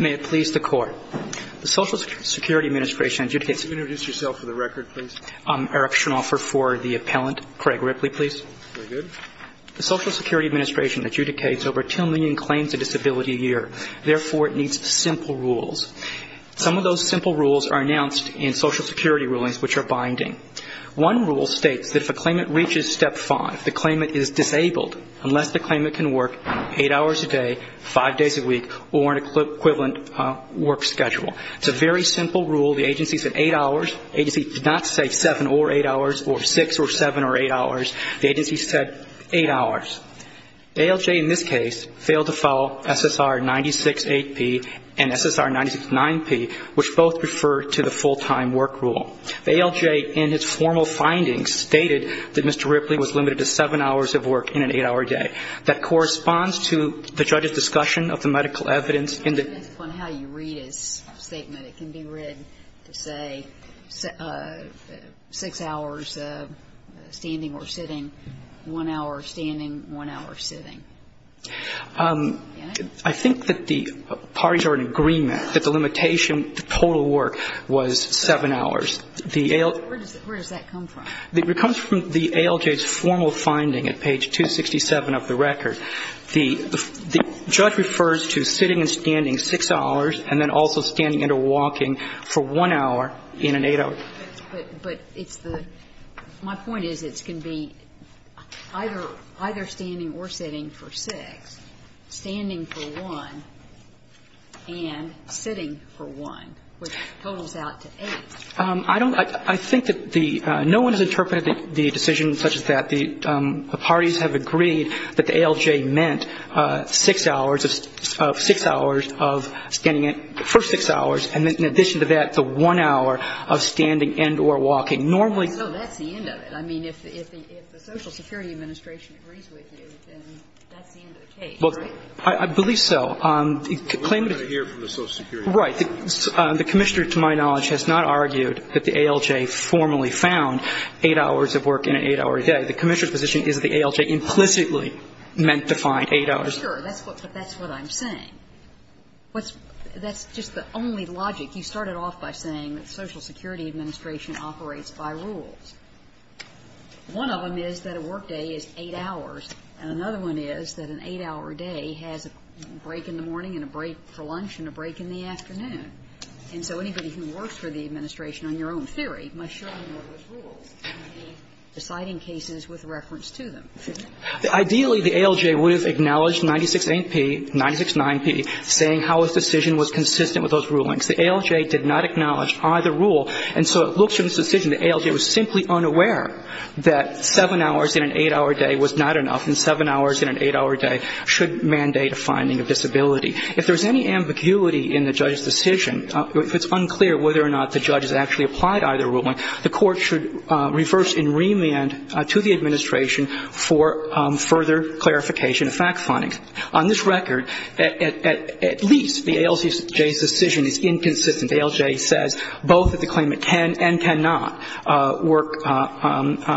May it please the Court. The Social Security Administration adjudicates over 2 million claims of disability a year. Therefore, it needs simple rules. Some of those simple rules are announced in Social Security rulings, which are binding. One rule states that if a claimant reaches Step 5, the claimant is disabled unless the claimant can work 8 hours a day, 5 days a week, or an equivalent work schedule. It's a very simple rule. The agency said 8 hours. The agency did not say 7 or 8 hours or 6 or 7 or 8 hours. The agency said 8 hours. The ALJ in this case failed to follow SSR 96-8P and SSR 96-9P, which both refer to the full-time work rule. The ALJ, in its formal findings, stated that Mr. Ripley was limited to 7 hours of work in an 8-hour day. That corresponds to the judge's discussion of the medical evidence in the ---- It depends on how you read his statement. It can be read to say 6 hours of standing or sitting, 1 hour standing, 1 hour sitting. I think that the parties are in agreement that the limitation to total work was 7 hours. The ALJ ---- Where does that come from? It comes from the ALJ's formal finding at page 267 of the record. The judge refers to sitting and standing 6 hours and then also standing and walking for 1 hour in an 8-hour day. But it's the ---- My point is it can be either standing or sitting for 6, standing for 1, and sitting for 1, which totals out to 8. I don't ---- I think that the ---- No one has interpreted the decision such as that. The parties have agreed that the ALJ meant 6 hours of standing for 6 hours, and in So the ALJ is not saying that the ALJ is going to have to do 8 hours of standing or walking for 1 hour of standing and or walking. Normally ---- No, that's the end of it. I mean, if the Social Security Administration agrees with you, then that's the end of the case, right? I believe so. The claimant is ---- We're going to hear from the Social Security Administration. Right. The Commissioner, to my knowledge, has not argued that the ALJ formally found 8 hours of work in an 8-hour day. The Commissioner's position is the ALJ implicitly meant to find 8 hours. Sure. That's what I'm saying. That's just the only logic. You started off by saying that the Social Security Administration operates by rules. One of them is that a work in an 8-hour day has a break in the morning and a break for lunch and a break in the afternoon. And so anybody who works for the Administration, on your own theory, must surely know those rules and the deciding cases with reference to them. Ideally, the ALJ would have acknowledged 96-8P, 96-9P, saying how its decision was consistent with those rulings. The ALJ did not acknowledge either rule, and so it looks from this decision the ALJ was simply unaware that 7 hours in an 8-hour day was not enough and 7 hours in an 8-hour day should mandate a finding of disability. If there's any ambiguity in the judge's decision, if it's unclear whether or not the judge has actually applied either ruling, the Court should reverse and remand to the Administration for further clarification of fact findings. On this record, at least the ALJ's decision is inconsistent. The ALJ says both that the claimant can and cannot work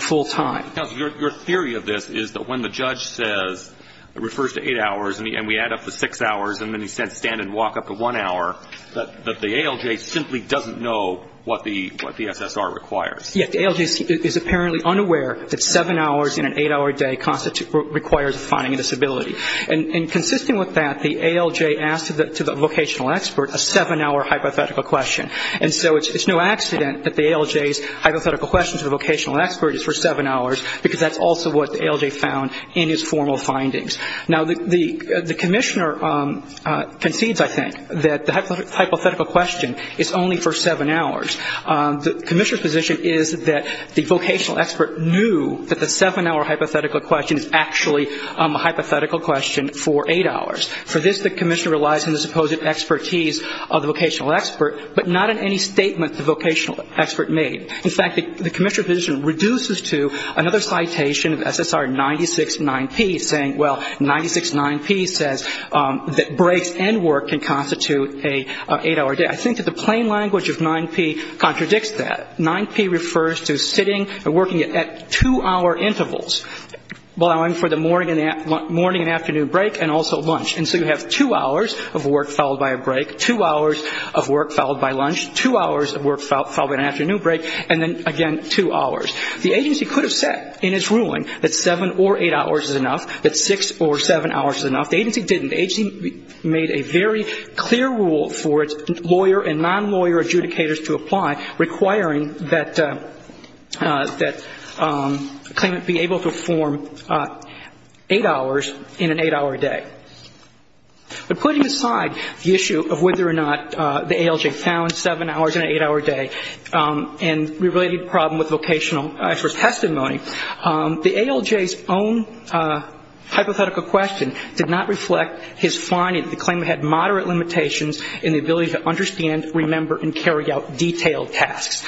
full time. Your theory of this is that when the judge says, refers to 8 hours, and we add up the 6 hours, and then he says stand and walk up to 1 hour, that the ALJ simply doesn't know what the SSR requires. Yes, the ALJ is apparently unaware that 7 hours in an 8-hour day requires a finding of disability. And consistent with that, the ALJ asked the vocational expert a 7-hour hypothetical question. And so it's no accident that the ALJ's hypothetical question to the vocational expert is for 7 hours, because that's also what the ALJ found in his formal findings. Now, the Commissioner concedes, I think, that the hypothetical question is only for 7 hours. The Commissioner's position is that the vocational expert knew that the 7-hour hypothetical question is actually a hypothetical question for 8 hours. For this, the Commissioner relies on the supposed expertise of the vocational expert, but not on any statement the vocational expert made. In fact, the Commissioner's position reduces to another citation of SSR 969P saying, well, 969P says that breaks and work can constitute an 8-hour day. I think that the plain language of 9P contradicts that. 9P refers to sitting and working at 2-hour intervals, allowing for the morning and afternoon break and also 2 hours of work followed by a break, 2 hours of work followed by lunch, 2 hours of work followed by an afternoon break, and then, again, 2 hours. The agency could have said in its ruling that 7 or 8 hours is enough, that 6 or 7 hours is enough. The agency didn't. The agency made a very clear rule for its lawyer and non-lawyer adjudicators to apply requiring that claimant be able to form 8 hours in an 8-hour day. But putting aside the issue of whether or not the ALJ found 7 hours in an 8-hour day and related the problem with vocational expert's testimony, the ALJ's own hypothetical question did not reflect his finding that the claimant had moderate limitations in the ability to understand, remember, and carry out detailed tasks.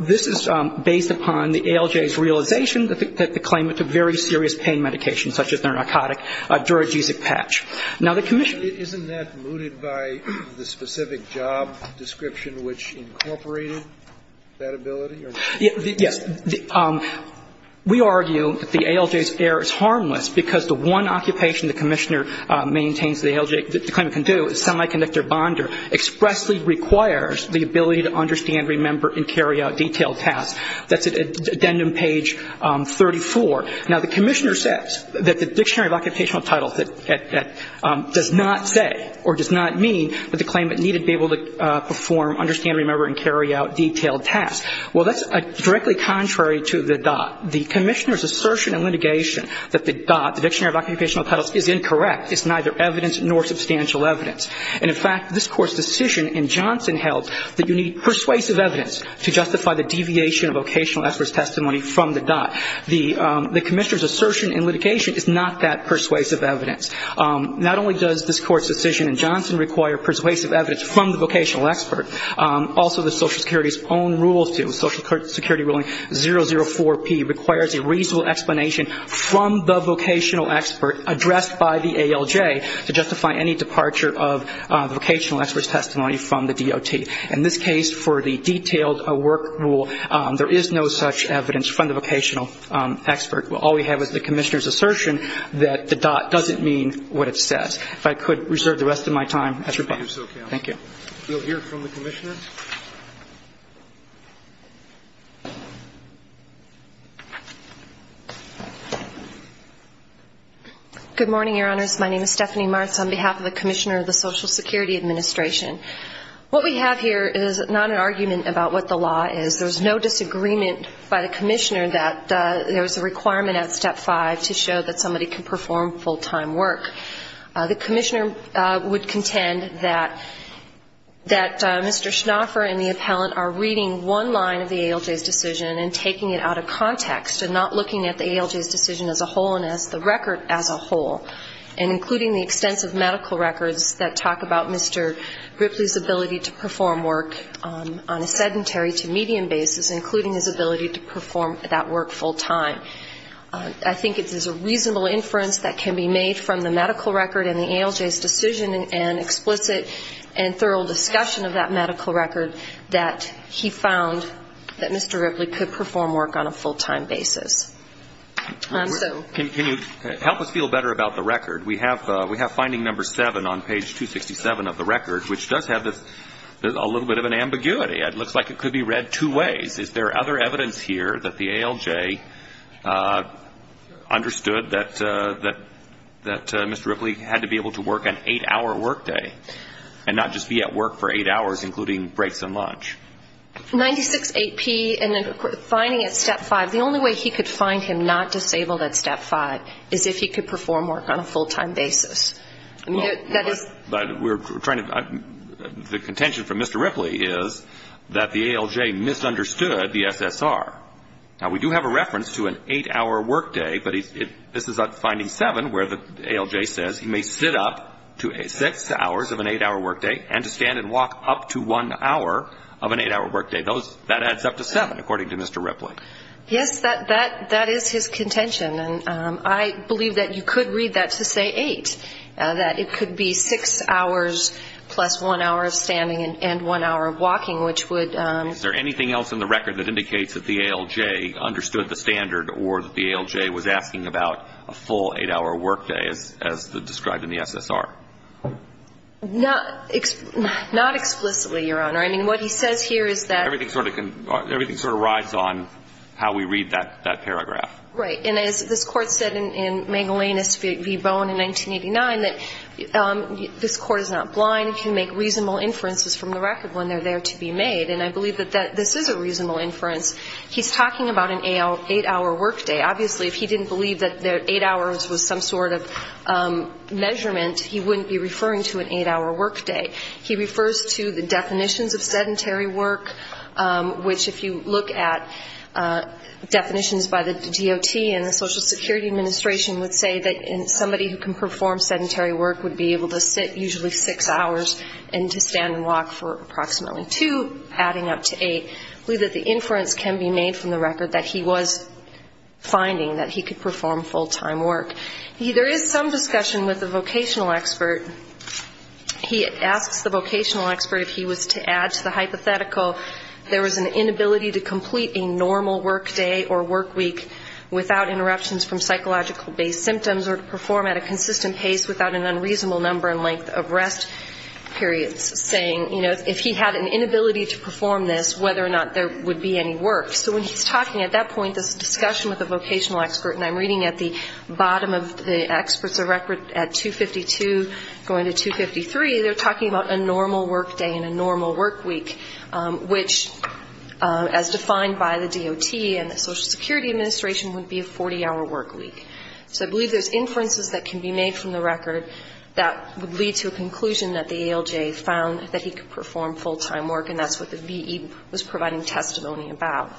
This is based upon the ALJ's realization that the claimant took very serious pain medication, such as their narcotic duragesic patch. Now, the commission ---- Isn't that mooted by the specific job description which incorporated that ability? Yes. We argue that the ALJ's error is harmless because the one occupation the commissioner maintains the ALJ, the claimant can do is semiconductor bonder, expressly requires the ability to understand, remember, and carry out detailed tasks. That's at addendum page 34. Now, the commissioner says that the Dictionary of Occupational Titles does not say or does not mean that the claimant needed to be able to perform, understand, remember, and carry out detailed tasks. Well, that's directly contrary to the DOT. The commissioner's assertion in litigation that the DOT, the Dictionary of Occupational Titles, is incorrect. It's neither evidence nor substantial evidence. And, in fact, this Court's decision in Johnson held that you need persuasive evidence to justify the deviation of vocational expert's testimony from the DOT. The commissioner's assertion in litigation is not that persuasive evidence. Not only does this Court's decision in Johnson require persuasive evidence from the vocational expert, also the Social Security's own rules do. Social Security ruling 004P requires a reasonable explanation from the vocational expert addressed by the ALJ to justify any departure of vocational expert's testimony from the DOT. In this case, for the detailed work rule, there is no such evidence from the vocational expert. All we have is the commissioner's assertion that the DOT doesn't mean what it says. If I could reserve the rest of my time. You'll hear from the commissioner. Good morning, Your Honors. My name is Stephanie Martz on behalf of the commissioner of the Social Security Administration. What we have here is not an argument about what the law is. There's no disagreement by the commissioner that there's a requirement at Step 5 to show that somebody can perform full-time work. The commissioner would contend that Mr. Schnaufer and the appellant are reading one line of the ALJ's decision and taking it out of context and not looking at the ALJ's decision as a whole and as the record as a whole, and including the extensive medical records that talk about Mr. Ripley's ability to perform work on a sedentary to medium basis, including his ability to perform that work full-time. I think there's a reasonable inference that can be made from the medical record and the ALJ's decision and explicit and thorough discussion of that medical record that he found that Mr. Ripley could perform work on a full-time basis. Can you help us feel better about the record? We have finding number 7 on page 267 of the record, which does have a little bit of an ambiguity. It looks like it could be read two ways. Is there other evidence here that the ALJ understood that Mr. Ripley had to be able to work an 8-hour workday and not just be at work for 8 hours, including breaks and lunch? 96-8P and finding at Step 5, the only way he could find him not disabled at Step 5 is if he could perform work on a full-time basis. The contention from Mr. Ripley is that the ALJ misunderstood the SSR. Now, we do have a reference to an 8-hour workday, but this is on finding 7 where the ALJ says he may sit up to 6 hours of an 8-hour workday and to stand and walk up to 1 hour of an 8-hour workday. That adds up to 7, according to Mr. Ripley. Yes, that is his contention, and I believe that you could read that to say 8, that it could be 6 hours plus 1 hour of standing and 1 hour of walking, which would... Is there anything else in the record that indicates that the ALJ understood the standard or that the ALJ was asking about a full 8-hour workday as described in the SSR? Not explicitly, Your Honor. I mean, what he says here is that... Everything sort of rides on how we read that paragraph. Right. And as this Court said in Magellanus v. Bowen in 1989, that this Court is not blind. It can make reasonable inferences from the record when they're there to be made. And I believe that this is a reasonable inference. He's talking about an 8-hour workday. Obviously, if he didn't believe that 8 hours was some sort of measurement, he wouldn't be referring to an 8-hour workday. He refers to the definitions of sedentary work, which if you look at definitions by the DOT and the Social Security Administration would say that somebody who can perform sedentary work would be able to sit usually 6 hours and to stand and walk for approximately 2, adding up to 8. I believe that the inference can be made from the record that he was finding that he could perform full-time work. There is some discussion with the vocational expert. He asks the vocational expert if he was to add to the hypothetical there was an inability to complete a normal workday or workweek without interruptions from psychological-based symptoms or to perform at a consistent pace without an unreasonable number and length of rest periods, saying, you know, if he had an inability to perform this, whether or not there would be any work. So when he's talking at that point, this discussion with the vocational expert, and I'm reading at the bottom of the experts' record at 252 going to 253, they're talking about a normal workday and a normal workweek, which as defined by the DOT and the Social Security Administration would be a 40-hour workweek. So I believe there's inferences that can be made from the record that would lead to a conclusion that the ALJ found that he could perform full-time work, and that's what the V.E. was providing testimony about.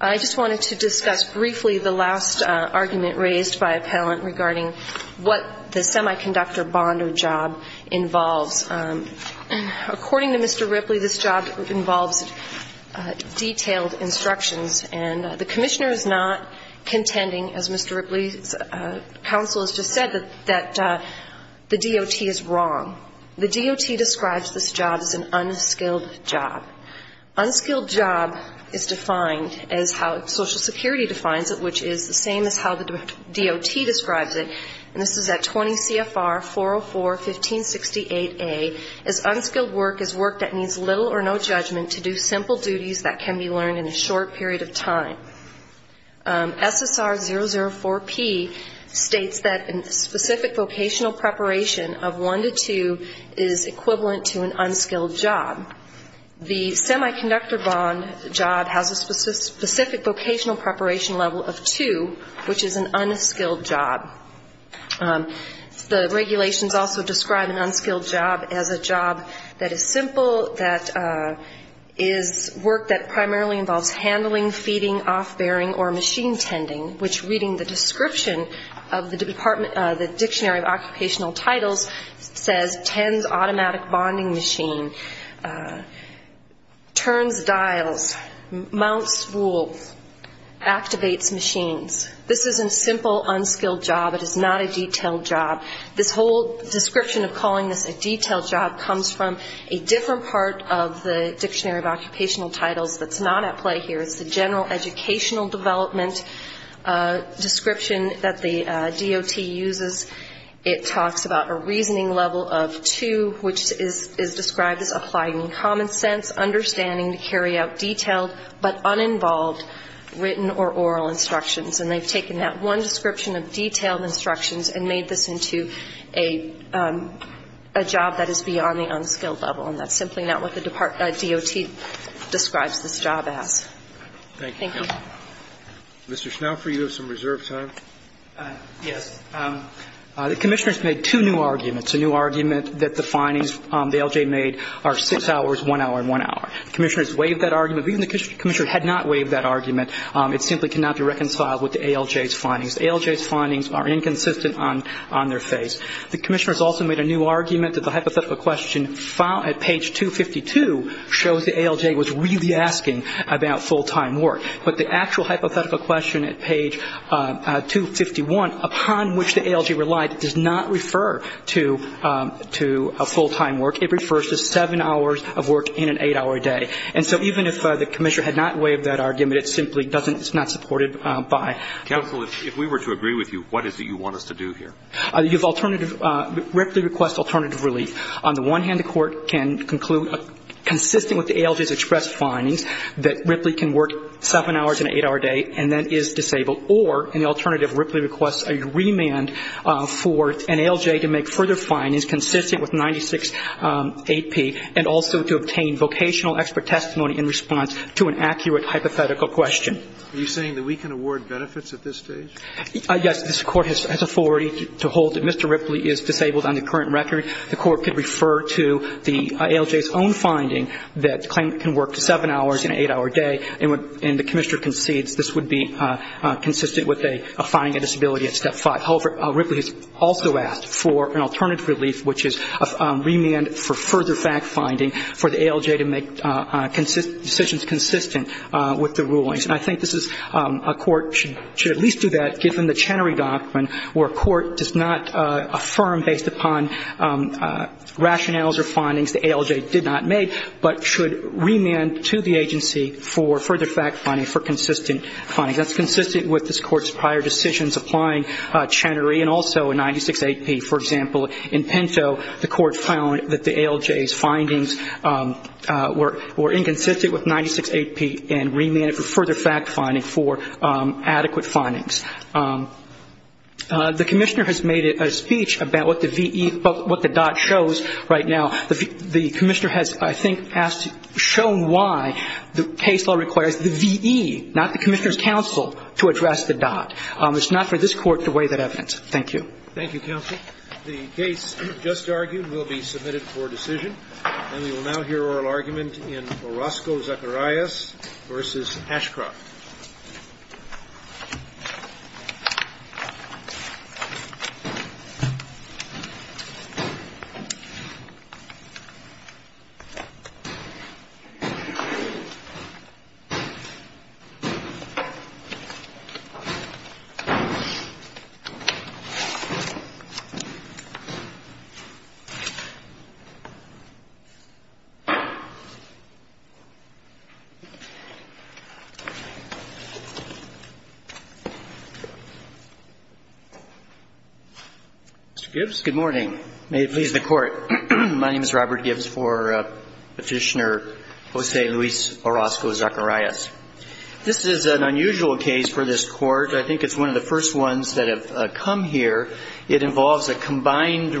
I just wanted to discuss briefly the last argument raised by a palant regarding what the semiconductor bond or job involves. According to Mr. Ripley, this job involves detailed instructions, and the commissioner is not contending, as Mr. Ripley's counsel has just said, that the DOT is wrong. The DOT describes this job as an optional job. It's an unskilled job. Unskilled job is defined as how Social Security defines it, which is the same as how the DOT describes it, and this is at 20 CFR 404-1568A, as unskilled work is work that needs little or no judgment to do simple duties that can be learned in a short period of time. SSR 004P states that specific vocational preparation of one to two is equivalent to an unskilled job. The semiconductor bond job has a specific vocational preparation level of two, which is an unskilled job. The regulations also describe an unskilled job as a job that is simple, that is work that primarily involves handling, feeding, off-bearing, or machine tending, which reading the description of the Dictionary of Occupational Titles. This is a simple, unskilled job. It is not a detailed job. This whole description of calling this a detailed job comes from a different part of the Dictionary of Occupational Titles that's not at play here. It's the general educational development description that the DOT uses. It talks about a reasoning level of two, which is a job that is beyond the unskilled level. And that's simply not what the DOT describes this job as. Thank you. Thank you. Mr. Schnaufer, you have some reserve time. Yes. The Commissioner has made two new arguments, a new argument that the DOT is not consistent with the findings the ALJ made are six hours, one hour, and one hour. The Commissioner has waived that argument. Even the Commissioner had not waived that argument. It simply cannot be reconciled with the ALJ's findings. The ALJ's findings are inconsistent on their face. The Commissioner has also made a new argument that the hypothetical question at page 252 shows the ALJ was really asking about full-time work. But the actual hypothetical question at page 251, upon which the ALJ relied, does not refer to full-time work. It refers to seven hours of work in an eight-hour day. And so even if the Commissioner had not waived that argument, it simply doesn't, it's not supported by the ALJ. Counsel, if we were to agree with you, what is it you want us to do here? You have alternative, Ripley requests alternative relief. On the one hand, the Court can conclude, consistent with the ALJ's expressed findings, that Ripley can work seven hours in an eight-hour day and then is disabled. Or, in the alternative, Ripley requests a remand for an ALJ to make further findings consistent with 96AP and also to obtain vocational expert testimony in response to an accurate hypothetical question. Are you saying that we can award benefits at this stage? Yes. This Court has authority to hold that Mr. Ripley is disabled on the current record. The Court could refer to the ALJ's own finding that the claimant can work seven hours in an eight-hour day, and the Commissioner concedes this would be consistent with a finding of disability at step five. However, Ripley has also asked for an alternative relief, which is a remand for further fact-finding for the ALJ to make decisions consistent with the rulings. And I think this is, a court should at least do that, given the Chenery Doctrine, where a court does not affirm based upon rationales or findings the ALJ did not have made, but should remand to the agency for further fact-finding for consistent findings. That's consistent with this Court's prior decisions applying Chenery and also 96AP. For example, in Pinto, the Court found that the ALJ's findings were inconsistent with 96AP and remanded for further fact-finding for adequate findings. The Commissioner has made a speech about what the dot shows right now. The Commissioner has asked for a remand for that, and has, I think, shown why the case law requires the V.E., not the Commissioner's counsel, to address the dot. It's not for this Court to weigh that evidence. Thank you. Thank you, counsel. The case just argued will be submitted for decision. And we will now hear oral argument in Orozco-Zacarias v. Ashcroft. Mr. Gibbs, good morning. May it please the Court, my name is Robert Gibbs for the Orozco-Zacarias v. Ashcroft. And I would like to begin by thanking the Petitioner, Jose Luis Orozco-Zacarias. This is an unusual case for this Court. I think it's one of the first ones that have come here. It involves a combined